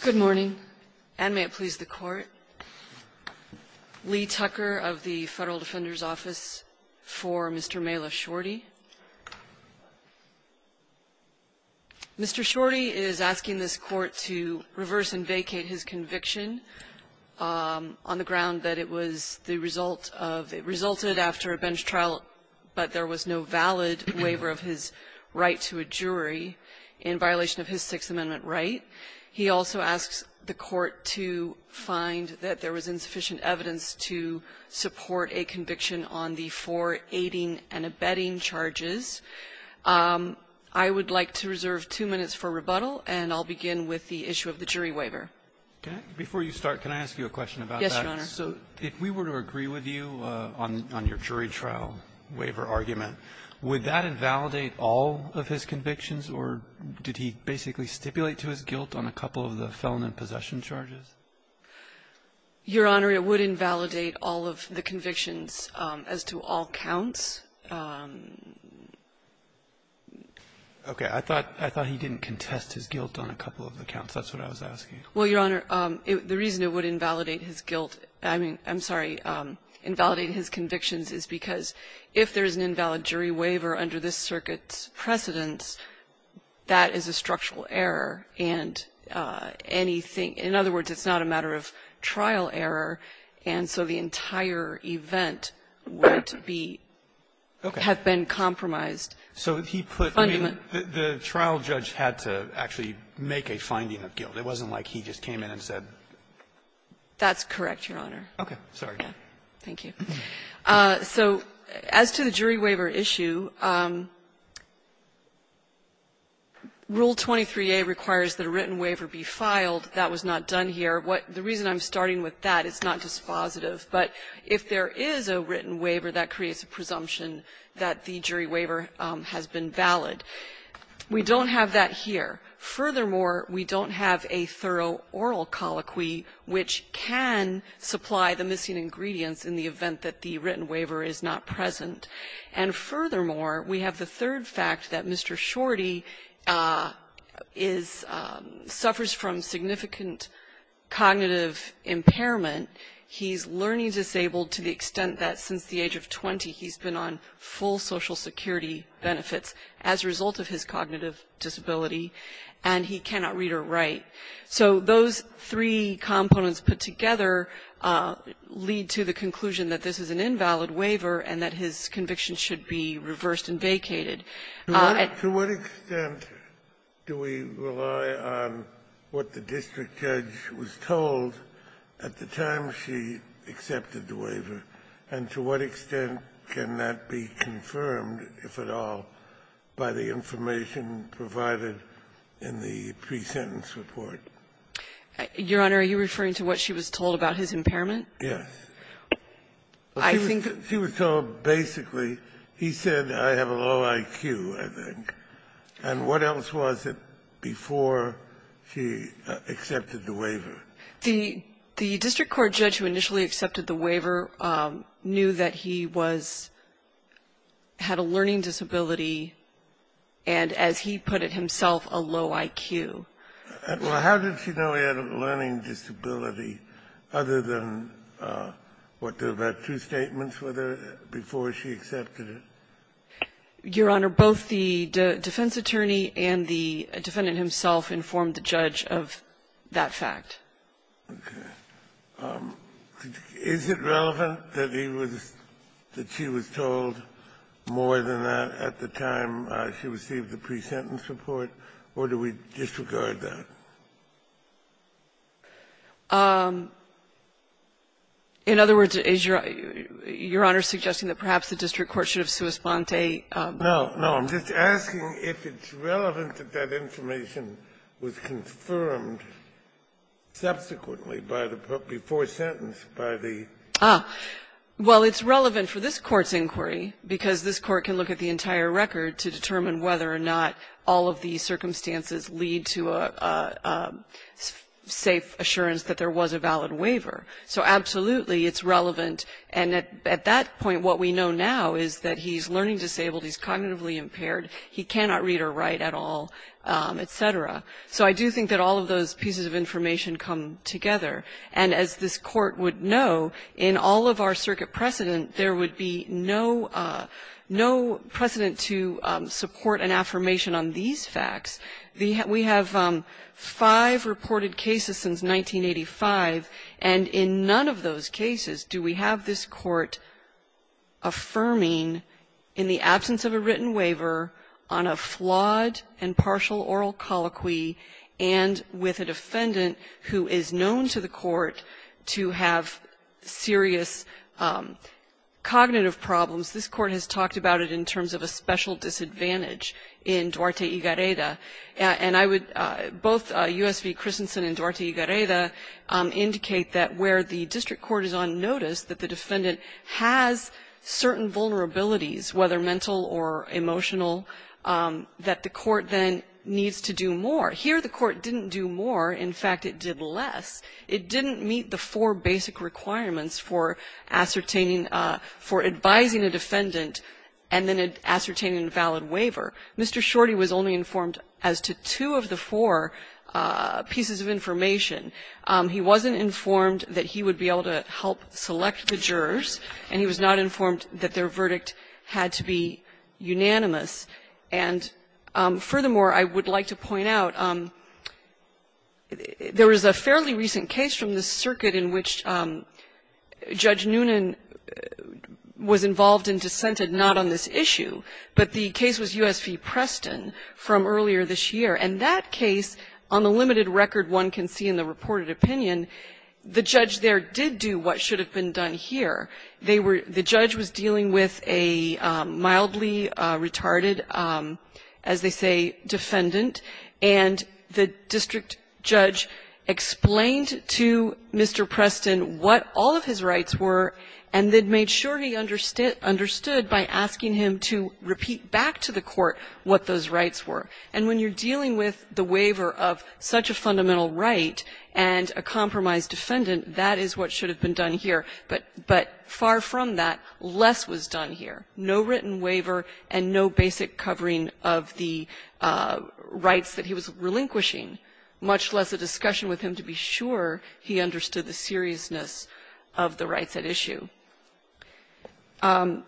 Good morning, and may it please the Court. Lee Tucker of the Federal Defender's Office for Mr. Mala Shorty. Mr. Shorty is asking this Court to reverse and vacate his conviction on the ground that it was the result of the result of a bench trial, but there was no valid waiver of his right to a jury in violation of his Sixth Amendment right. He also asks the Court to find that there was insufficient evidence to support a conviction on the four aiding and abetting charges. I would like to reserve two minutes for rebuttal, and I'll begin with the issue of the jury waiver. Roberts, before you start, can I ask you a question about that? Yes, Your Honor. So if we were to agree with you on your jury trial waiver argument, would that invalidate all of his convictions, or did he basically stipulate to his guilt on a couple of the felon and possession charges? Your Honor, it would invalidate all of the convictions as to all counts. Okay. I thought he didn't contest his guilt on a couple of the counts. That's what I was asking. Well, Your Honor, the reason it would invalidate his guilt — I mean, I'm sorry, invalidate his convictions is because if there's an invalid jury waiver under this circuit's precedence, that is a structural error, and anything — in other words, it's not a matter of trial error, and so the entire event would be — have been compromised. Okay. So he put — I mean, the trial judge had to actually make a finding of guilt. It wasn't like he just came in and said — That's correct, Your Honor. Okay. Sorry. Thank you. So as to the jury waiver issue, Rule 23a requires that a written waiver be filed. That was not done here. What — the reason I'm starting with that, it's not dispositive, but if there is a written waiver, that creates a presumption that the jury waiver has been valid. We don't have that here. Furthermore, we don't have a thorough oral colloquy, which can supply the missing ingredients in the event that the written waiver is not present. And furthermore, we have the third fact that Mr. Shorty is — suffers from significant cognitive impairment. He's learning disabled to the extent that since the age of 20, he's been on full social security benefits as a result of his cognitive disability, and he cannot read or write. So those three components put together lead to the conclusion that this is an invalid waiver and that his conviction should be reversed and vacated. To what extent do we rely on what the district judge was told at the time she accepted the waiver, and to what extent can that be confirmed, if at all, by the information provided in the pre-sentence report? Your Honor, are you referring to what she was told about his impairment? Yes. She was told basically — he said, I have a low IQ, I think. And what else was it before she accepted the waiver? The district court judge who initially accepted the waiver knew that he was — had a learning disability and, as he put it himself, a low IQ. Well, how did she know he had a learning disability other than what, about two statements with her before she accepted it? Your Honor, both the defense attorney and the defendant himself informed the judge of that fact. Okay. Is it relevant that he was — that she was told more than that at the time she received the pre-sentence report, or do we disregard that? In other words, is Your Honor suggesting that perhaps the district court should have sui sponte? No. No. I'm just asking if it's relevant that that information was confirmed subsequently by the — before sentence by the — Ah. Well, it's relevant for this Court's inquiry, because this Court can look at the entire record to determine whether or not all of the circumstances lead to a safe assurance that there was a valid waiver. So absolutely, it's relevant. And at that point, what we know now is that he's learning disabled, he's cognitively impaired, he cannot read or write at all, et cetera. So I do think that all of those pieces of information come together. And as this Court would know, in all of our circuit precedent, there would be no — no precedent to support an affirmation on these facts. We have five reported cases since 1985, and in none of those cases do we have a valid waiver. We have this Court affirming in the absence of a written waiver on a flawed and partial oral colloquy and with a defendant who is known to the Court to have serious cognitive problems. This Court has talked about it in terms of a special disadvantage in Duarte y Gareda. And I would — both U.S. v. Christensen and Duarte y Gareda indicate that where the district court is on notice that the defendant has certain vulnerabilities, whether mental or emotional, that the court then needs to do more. Here, the court didn't do more. In fact, it did less. It didn't meet the four basic requirements for ascertaining — for advising a defendant and then ascertaining a valid waiver. Mr. Shorty was only informed as to two of the four pieces of information. He wasn't informed that he would be able to help select the jurors, and he was not informed that their verdict had to be unanimous. And furthermore, I would like to point out, there was a fairly recent case from the circuit in which Judge Noonan was involved and dissented not on this issue, but the case was U.S. v. Preston from earlier this year. And that case, on the limited record one can see in the reported opinion, the judge there did do what should have been done here. They were — the judge was dealing with a mildly retarded, as they say, defendant, and the district judge explained to Mr. Preston what all of his rights were, and then made sure he understood by asking him to repeat back to the court what those rights were. And when you're dealing with the waiver of such a fundamental right and a compromised defendant, that is what should have been done here. But far from that, less was done here. No written waiver and no basic covering of the rights that he was relinquishing, much less a discussion with him to be sure he understood the seriousness of the rights at issue. You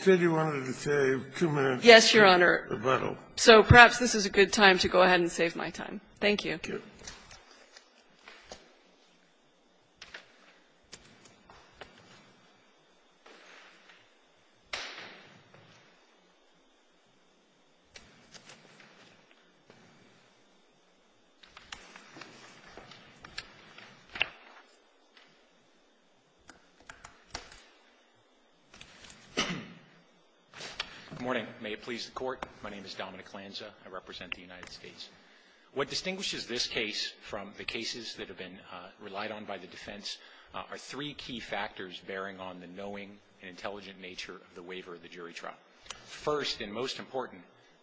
said you wanted to save two minutes for rebuttal. Yes, Your Honor. So perhaps this is a good time to go ahead and save my time. Thank you. Thank you. Thank you. Good morning. May it please the Court. My name is Dominic Lanza. I represent the United States. What distinguishes this case from the cases that have been relied on by the defense are three key factors bearing on the knowing and intelligent nature of the waiver of the jury trial. First and most important,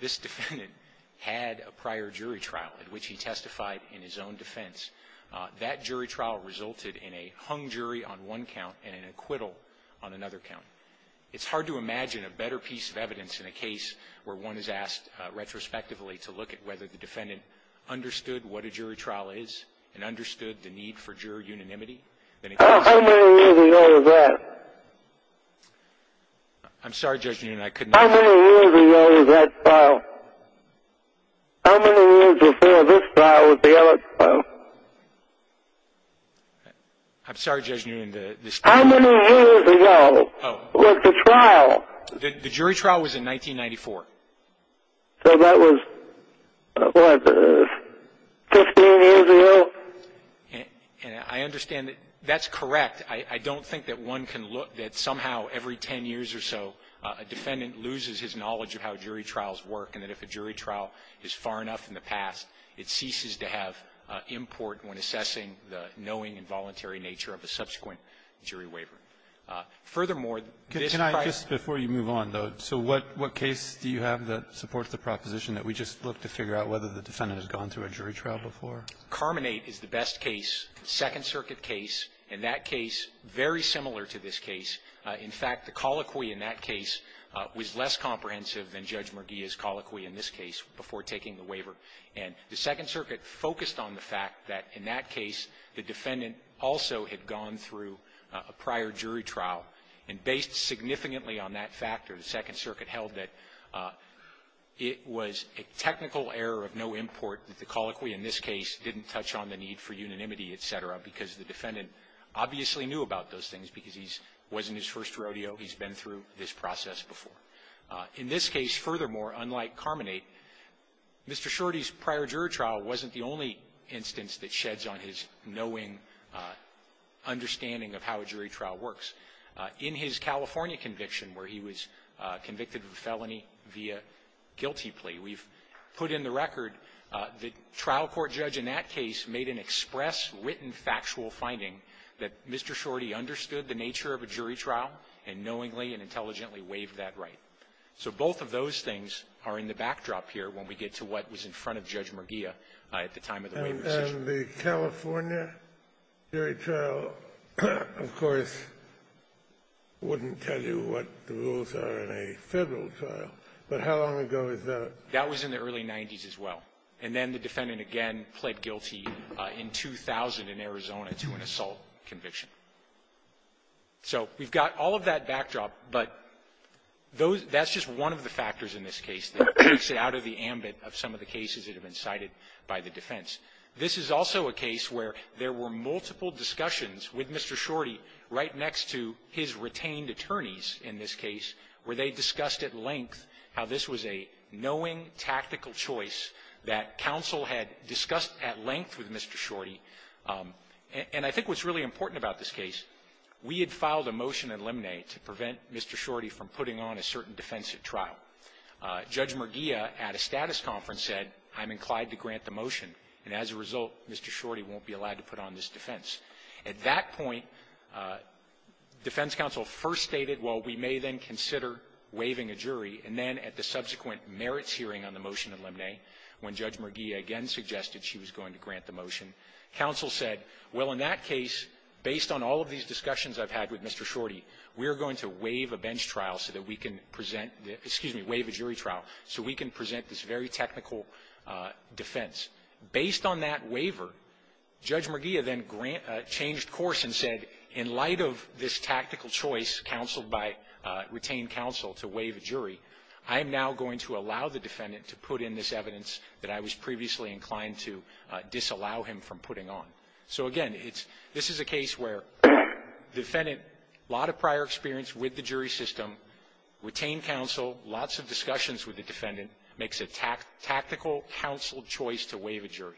this defendant had a prior jury trial in which he testified in his own defense. That jury trial resulted in a hung jury on one count and an acquittal on another count. It's hard to imagine a better piece of evidence in a case where one is asked retrospectively to look at whether the defendant understood what a jury trial is and understood the need for jury unanimity. How many years ago was that? I'm sorry, Judge Newnan, I couldn't hear you. How many years ago was that trial? How many years before this trial was the other trial? I'm sorry, Judge Newnan. How many years ago was the trial? The jury trial was in 1994. So that was, what, 15 years ago? And I understand that that's correct. I don't think that one can look that somehow every 10 years or so a defendant loses his knowledge of how jury trials work and that if a jury trial is far enough in the past, it ceases to have import when assessing the knowing and voluntary nature of a subsequent jury waiver. Furthermore, this prior Can I, just before you move on, though, so what case do you have that supports the proposition that we just look to figure out whether the defendant has gone through a jury trial before? Carmanate is the best case, Second Circuit case. In that case, very similar to this case. In fact, the colloquy in that case was less comprehensive than Judge Murguia's colloquy in this case before taking the waiver. And the Second Circuit focused on the fact that in that case, the defendant also had gone through a prior jury trial, and based significantly on that factor, the Second Circuit held that it was a technical error of no import that the colloquy in this case didn't touch on the need for unanimity, et cetera, because the defendant obviously knew about those things because he wasn't his first rodeo. He's been through this process before. In this case, furthermore, unlike Carmanate, Mr. Shorty's prior jury trial wasn't the only instance that sheds on his knowing, understanding of how a jury trial works. In his California conviction, where he was convicted of a felony via guilty plea, we've put in the record the trial court judge in that case made an express written factual finding that Mr. Shorty understood the nature of a jury trial and knowingly and intelligently waived that right. So both of those things are in the backdrop here when we get to what was in front of Judge Merguia at the time of the waiver session. And the California jury trial, of course, wouldn't tell you what the rules are in a Federal trial, but how long ago is that? That was in the early 90s as well. And then the defendant again pled guilty in 2000 in Arizona to an assault conviction. So we've got all of that backdrop, but those – that's just one of the factors in this case that takes it out of the ambit of some of the cases that have been cited by the defense. This is also a case where there were multiple discussions with Mr. Shorty right next to his retained attorneys in this case, where they discussed at length how this was a knowing, tactical choice that counsel had discussed at length with Mr. Shorty. And I think what's really important about this case, we had filed a motion at that point. Judge Merguia at a status conference said, I'm inclined to grant the motion, and as a result, Mr. Shorty won't be allowed to put on this defense. At that point, defense counsel first stated, well, we may then consider waiving a jury. And then at the subsequent merits hearing on the motion in Lemney, when Judge Merguia again suggested she was going to grant the motion, counsel said, well, in that case, based on all of these discussions I've had with Mr. Shorty, we're going to waive a bench trial so that we can present, excuse me, waive a jury trial, so we can present this very technical defense. Based on that waiver, Judge Merguia then changed course and said, in light of this tactical choice counseled by retained counsel to waive a jury, I am now going to allow the defendant to put in this evidence that I was previously inclined to disallow him from putting on. So again, this is a case where the defendant, a lot of prior experience with the jury system, retained counsel, lots of discussions with the defendant, makes a tactical counseled choice to waive a jury.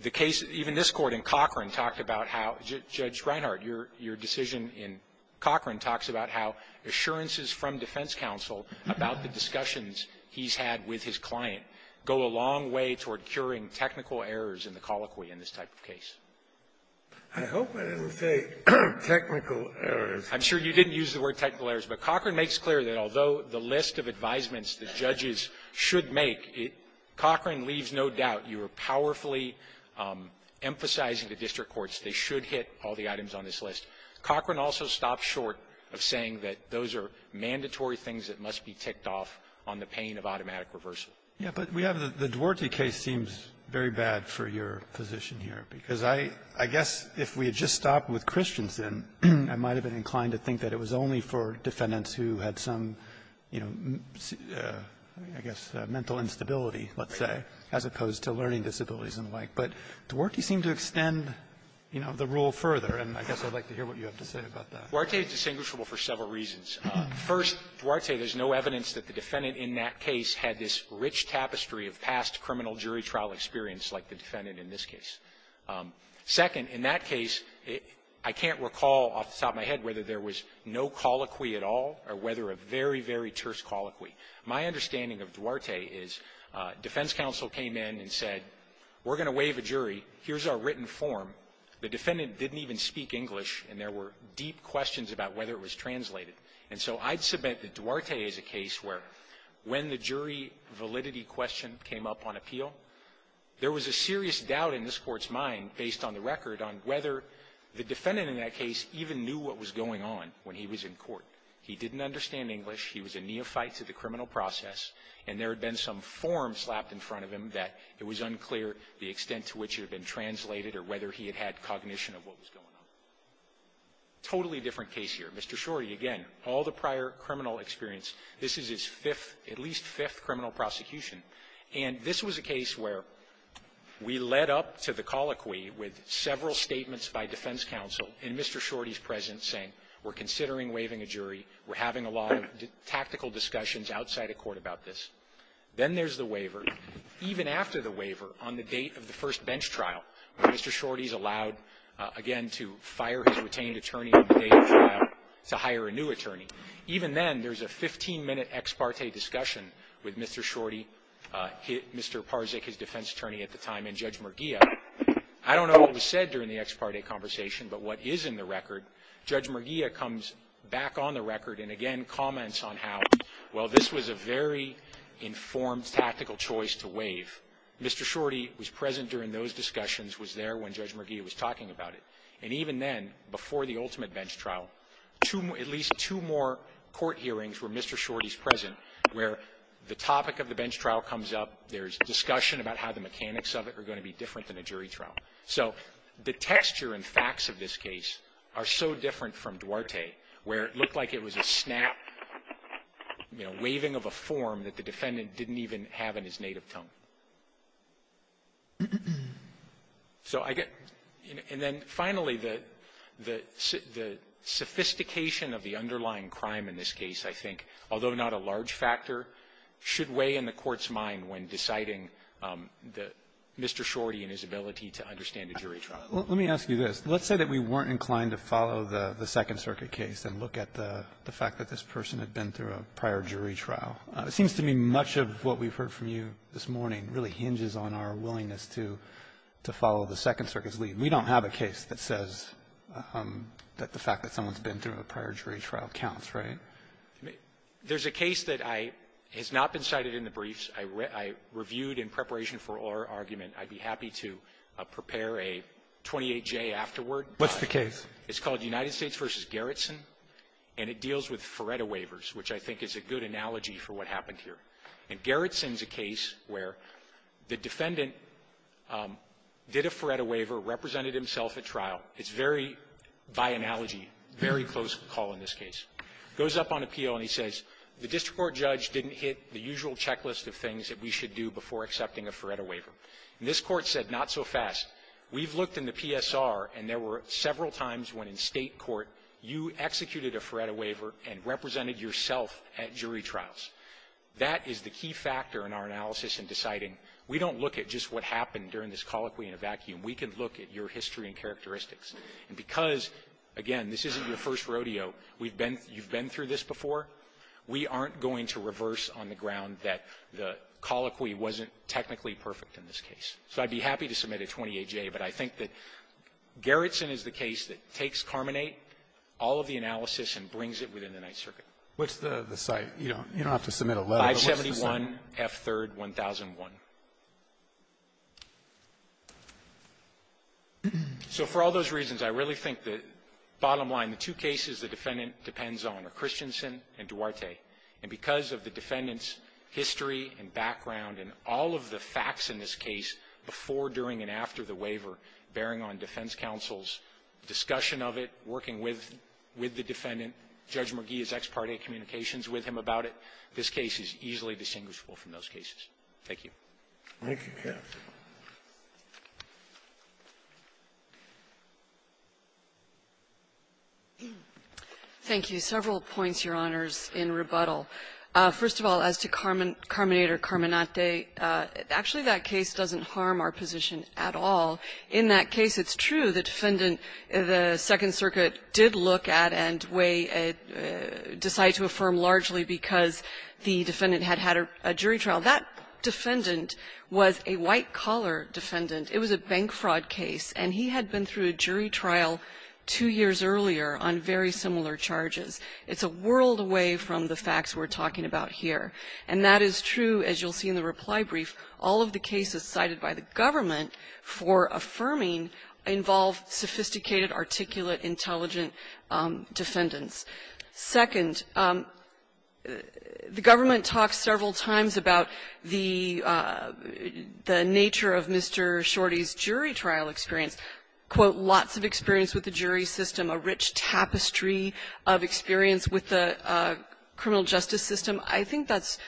The case, even this Court in Cochran, talked about how, Judge Reinhart, your decision in Cochran talks about how assurances from defense counsel about the discussions he's had with his client go a long way toward curing technical errors in the colloquy in this type of case. I hope I didn't say technical errors. I'm sure you didn't use the word technical errors, but Cochran makes clear that although the list of advisements the judges should make, Cochran leaves no doubt, you are powerfully emphasizing to district courts they should hit all the items on this list. Cochran also stops short of saying that those are mandatory things that must be ticked off on the pain of automatic reversal. Yeah. But we have the Duarte case seems very bad for your position here, because I guess if we had just stopped with Christensen, I might have been inclined to think that it was only for defendants who had some, you know, I guess, mental instability, let's say, as opposed to learning disabilities and the like. But Duarte seemed to extend, you know, the rule further, and I guess I'd like to hear what you have to say about that. Duarte is distinguishable for several reasons. First, Duarte, there's no evidence that the defendant in that case had this rich tapestry of past criminal jury trial experience like the defendant in this case. Second, in that case, I can't recall off the top of my head whether there was no colloquy at all or whether a very, very terse colloquy. My understanding of Duarte is defense counsel came in and said, we're going to waive a jury. Here's our written form. The defendant didn't even speak English, and there were deep questions about whether it was translated. And so I'd submit that Duarte is a case where when the jury validity question came up on appeal, there was a serious doubt in this Court's mind, based on the record, on whether the defendant in that case even knew what was going on when he was in court. He didn't understand English. He was a neophyte to the criminal process, and there had been some form slapped in front of him that it was unclear the extent to which it had been translated or whether he had had cognition of what was going on. Totally different case here. Mr. Shorty, again, all the prior criminal experience. This is his fifth, at least fifth, criminal prosecution. And this was a case where we led up to the colloquy with several statements by defense counsel in Mr. Shorty's presence saying we're considering waiving a jury, we're having a lot of tactical discussions outside of court about this. Then there's the waiver. Even after the waiver, on the date of the first bench trial, Mr. Shorty's allowed, again, to fire his retained attorney on the day of the trial to hire a new attorney. Even then, there's a 15-minute ex parte discussion with Mr. Shorty, Mr. Parzyk, his defense attorney at the time, and Judge Merguia. I don't know what was said during the ex parte conversation, but what is in the record, Judge Merguia comes back on the record and again comments on how, well, this was a very different case from Duarte, where it looked like it was a snap, you know, waving of a form that the defendant didn't even have in his native tongue. So I get — and then finally, the sophistication of the underlying crime in this case, I think, although not a large factor, should weigh in the Court's mind when deciding the — Mr. Shorty and his ability to understand a jury trial. Roberts. Let me ask you this. Let's say that we weren't inclined to follow the Second Circuit case and look at the fact that this person had been through a prior jury trial. It seems to me much of what we've heard from you this morning really hinges on our willingness to follow the Second Circuit's lead. We don't have a case that says that the fact that someone's been through a prior jury trial counts, right? There's a case that I — has not been cited in the briefs. I reviewed in preparation for our argument. I'd be happy to prepare a 28-J afterward. What's the case? It's called United States v. Garrison, and it deals with Feretta waivers, which I think is a good analogy for what happened here. And Garrison's a case where the defendant did a Feretta waiver, represented himself at trial. It's very, by analogy, very close call in this case. Goes up on appeal, and he says, the district court judge didn't hit the usual checklist of things that we should do before accepting a Feretta waiver. And this Court said, not so fast. We've looked in the PSR, and there were several times when in State court you executed a Feretta waiver and represented yourself at jury trials. That is the key factor in our analysis in deciding, we don't look at just what happened during this colloquy in a vacuum. We can look at your history and characteristics. And because, again, this isn't your first rodeo. We've been — you've been through this before. We aren't going to reverse on the ground that the colloquy wasn't technically perfect in this case. So I'd be happy to submit a 28-J, but I think that Garrison is the case that takes carmonate, all of the analysis, and brings it within the Ninth Circuit. Alito, what's the site? You don't have to submit a letter, but what's the site? 571 F. 3rd, 1001. So for all those reasons, I really think that, bottom line, the two cases the defendant depends on are Christensen and Duarte. And because of the defendant's history and background and all of the facts in this case before, during, and after the waiver, bearing on defense counsel's discussion of it, working with the defendant, Judge McGee's ex parte communications with him about it, this case is easily distinguishable from those cases. Thank you. Thank you, counsel. Thank you. Several points, Your Honors, in rebuttal. First of all, as to carmonate or carmonate, actually that case doesn't harm our position at all. In that case, it's true the defendant, the Second Circuit, did look at and decide to affirm largely because the defendant had had a jury trial. That defendant was a white-collar defendant. It was a bank fraud case, and he had been through a jury trial two years earlier on very similar charges. It's a world away from the facts we're talking about here. And that is true, as you'll see in the reply brief, all of the cases cited by the government for affirming involve sophisticated, articulate, intelligent defendants. Second, the government talks several times about the nature of Mr. Shorty's jury trial experience, quote, lots of experience with the jury system, a rich tapestry of experience with the criminal justice system. I think that's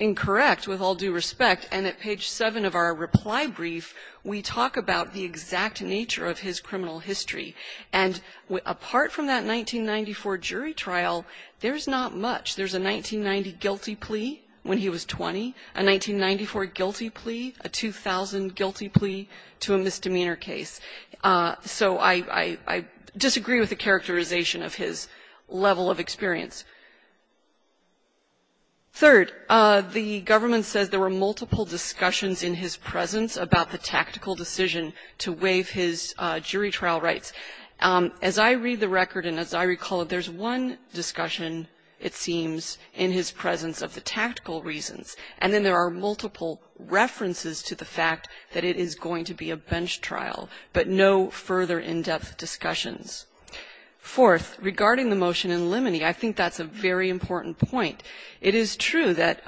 incorrect, with all due respect. And at page 7 of our reply brief, we talk about the exact nature of his criminal history. And apart from that 1994 jury trial, there's not much. There's a 1990 guilty plea when he was 20, a 1994 guilty plea, a 2000 guilty plea to a misdemeanor case. So I disagree with the characterization of his level of experience. Third, the government says there were multiple discussions in his presence about the tactical decision to waive his jury trial rights. As I read the record and as I recall it, there's one discussion, it seems, in his presence of the tactical reasons, and then there are multiple references to the fact that it is going to be a bench trial, but no further in-depth discussions. Fourth, regarding the motion in limine, I think that's a very important point. It is true that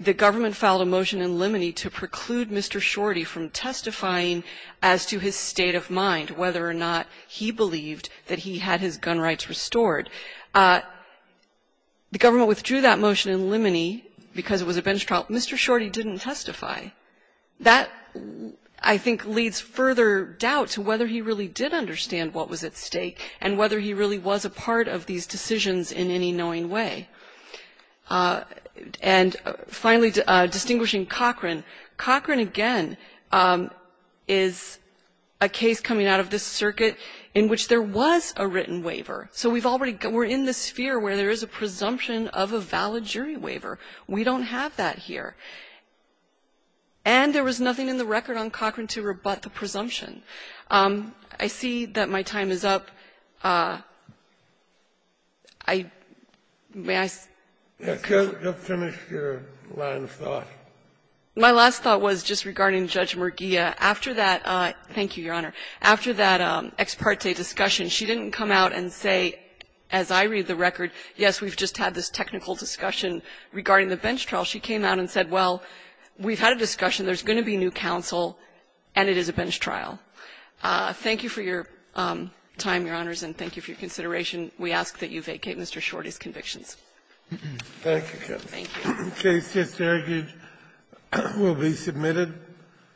the government filed a motion in limine to preclude Mr. Shorty from testifying as to his state of mind, whether or not he believed that he had his gun rights restored. The government withdrew that motion in limine because it was a bench trial. Mr. Shorty didn't testify. That, I think, leads further doubt to whether he really did understand what was at stake and whether he really was a part of these decisions in any knowing way. And finally, distinguishing Cochran. Cochran, again, is a case coming out of this circuit in which there was a written waiver. So we've already got we're in the sphere where there is a presumption of a valid jury waiver. We don't have that here. And there was nothing in the record on Cochran to rebut the presumption. I see that my time is up. I may I ask? Scalia, just finish your line of thought. My last thought was just regarding Judge Murguia. After that, thank you, Your Honor, after that ex parte discussion, she didn't come out and say, as I read the record, yes, we've just had this technical discussion regarding the bench trial. She came out and said, well, we've had a discussion. There's going to be new counsel, and it is a bench trial. Thank you for your time, Your Honors, and thank you for your consideration. We ask that you vacate Mr. Shorty's convictions. Thank you, Counsel. Thank you. The case just argued will be submitted.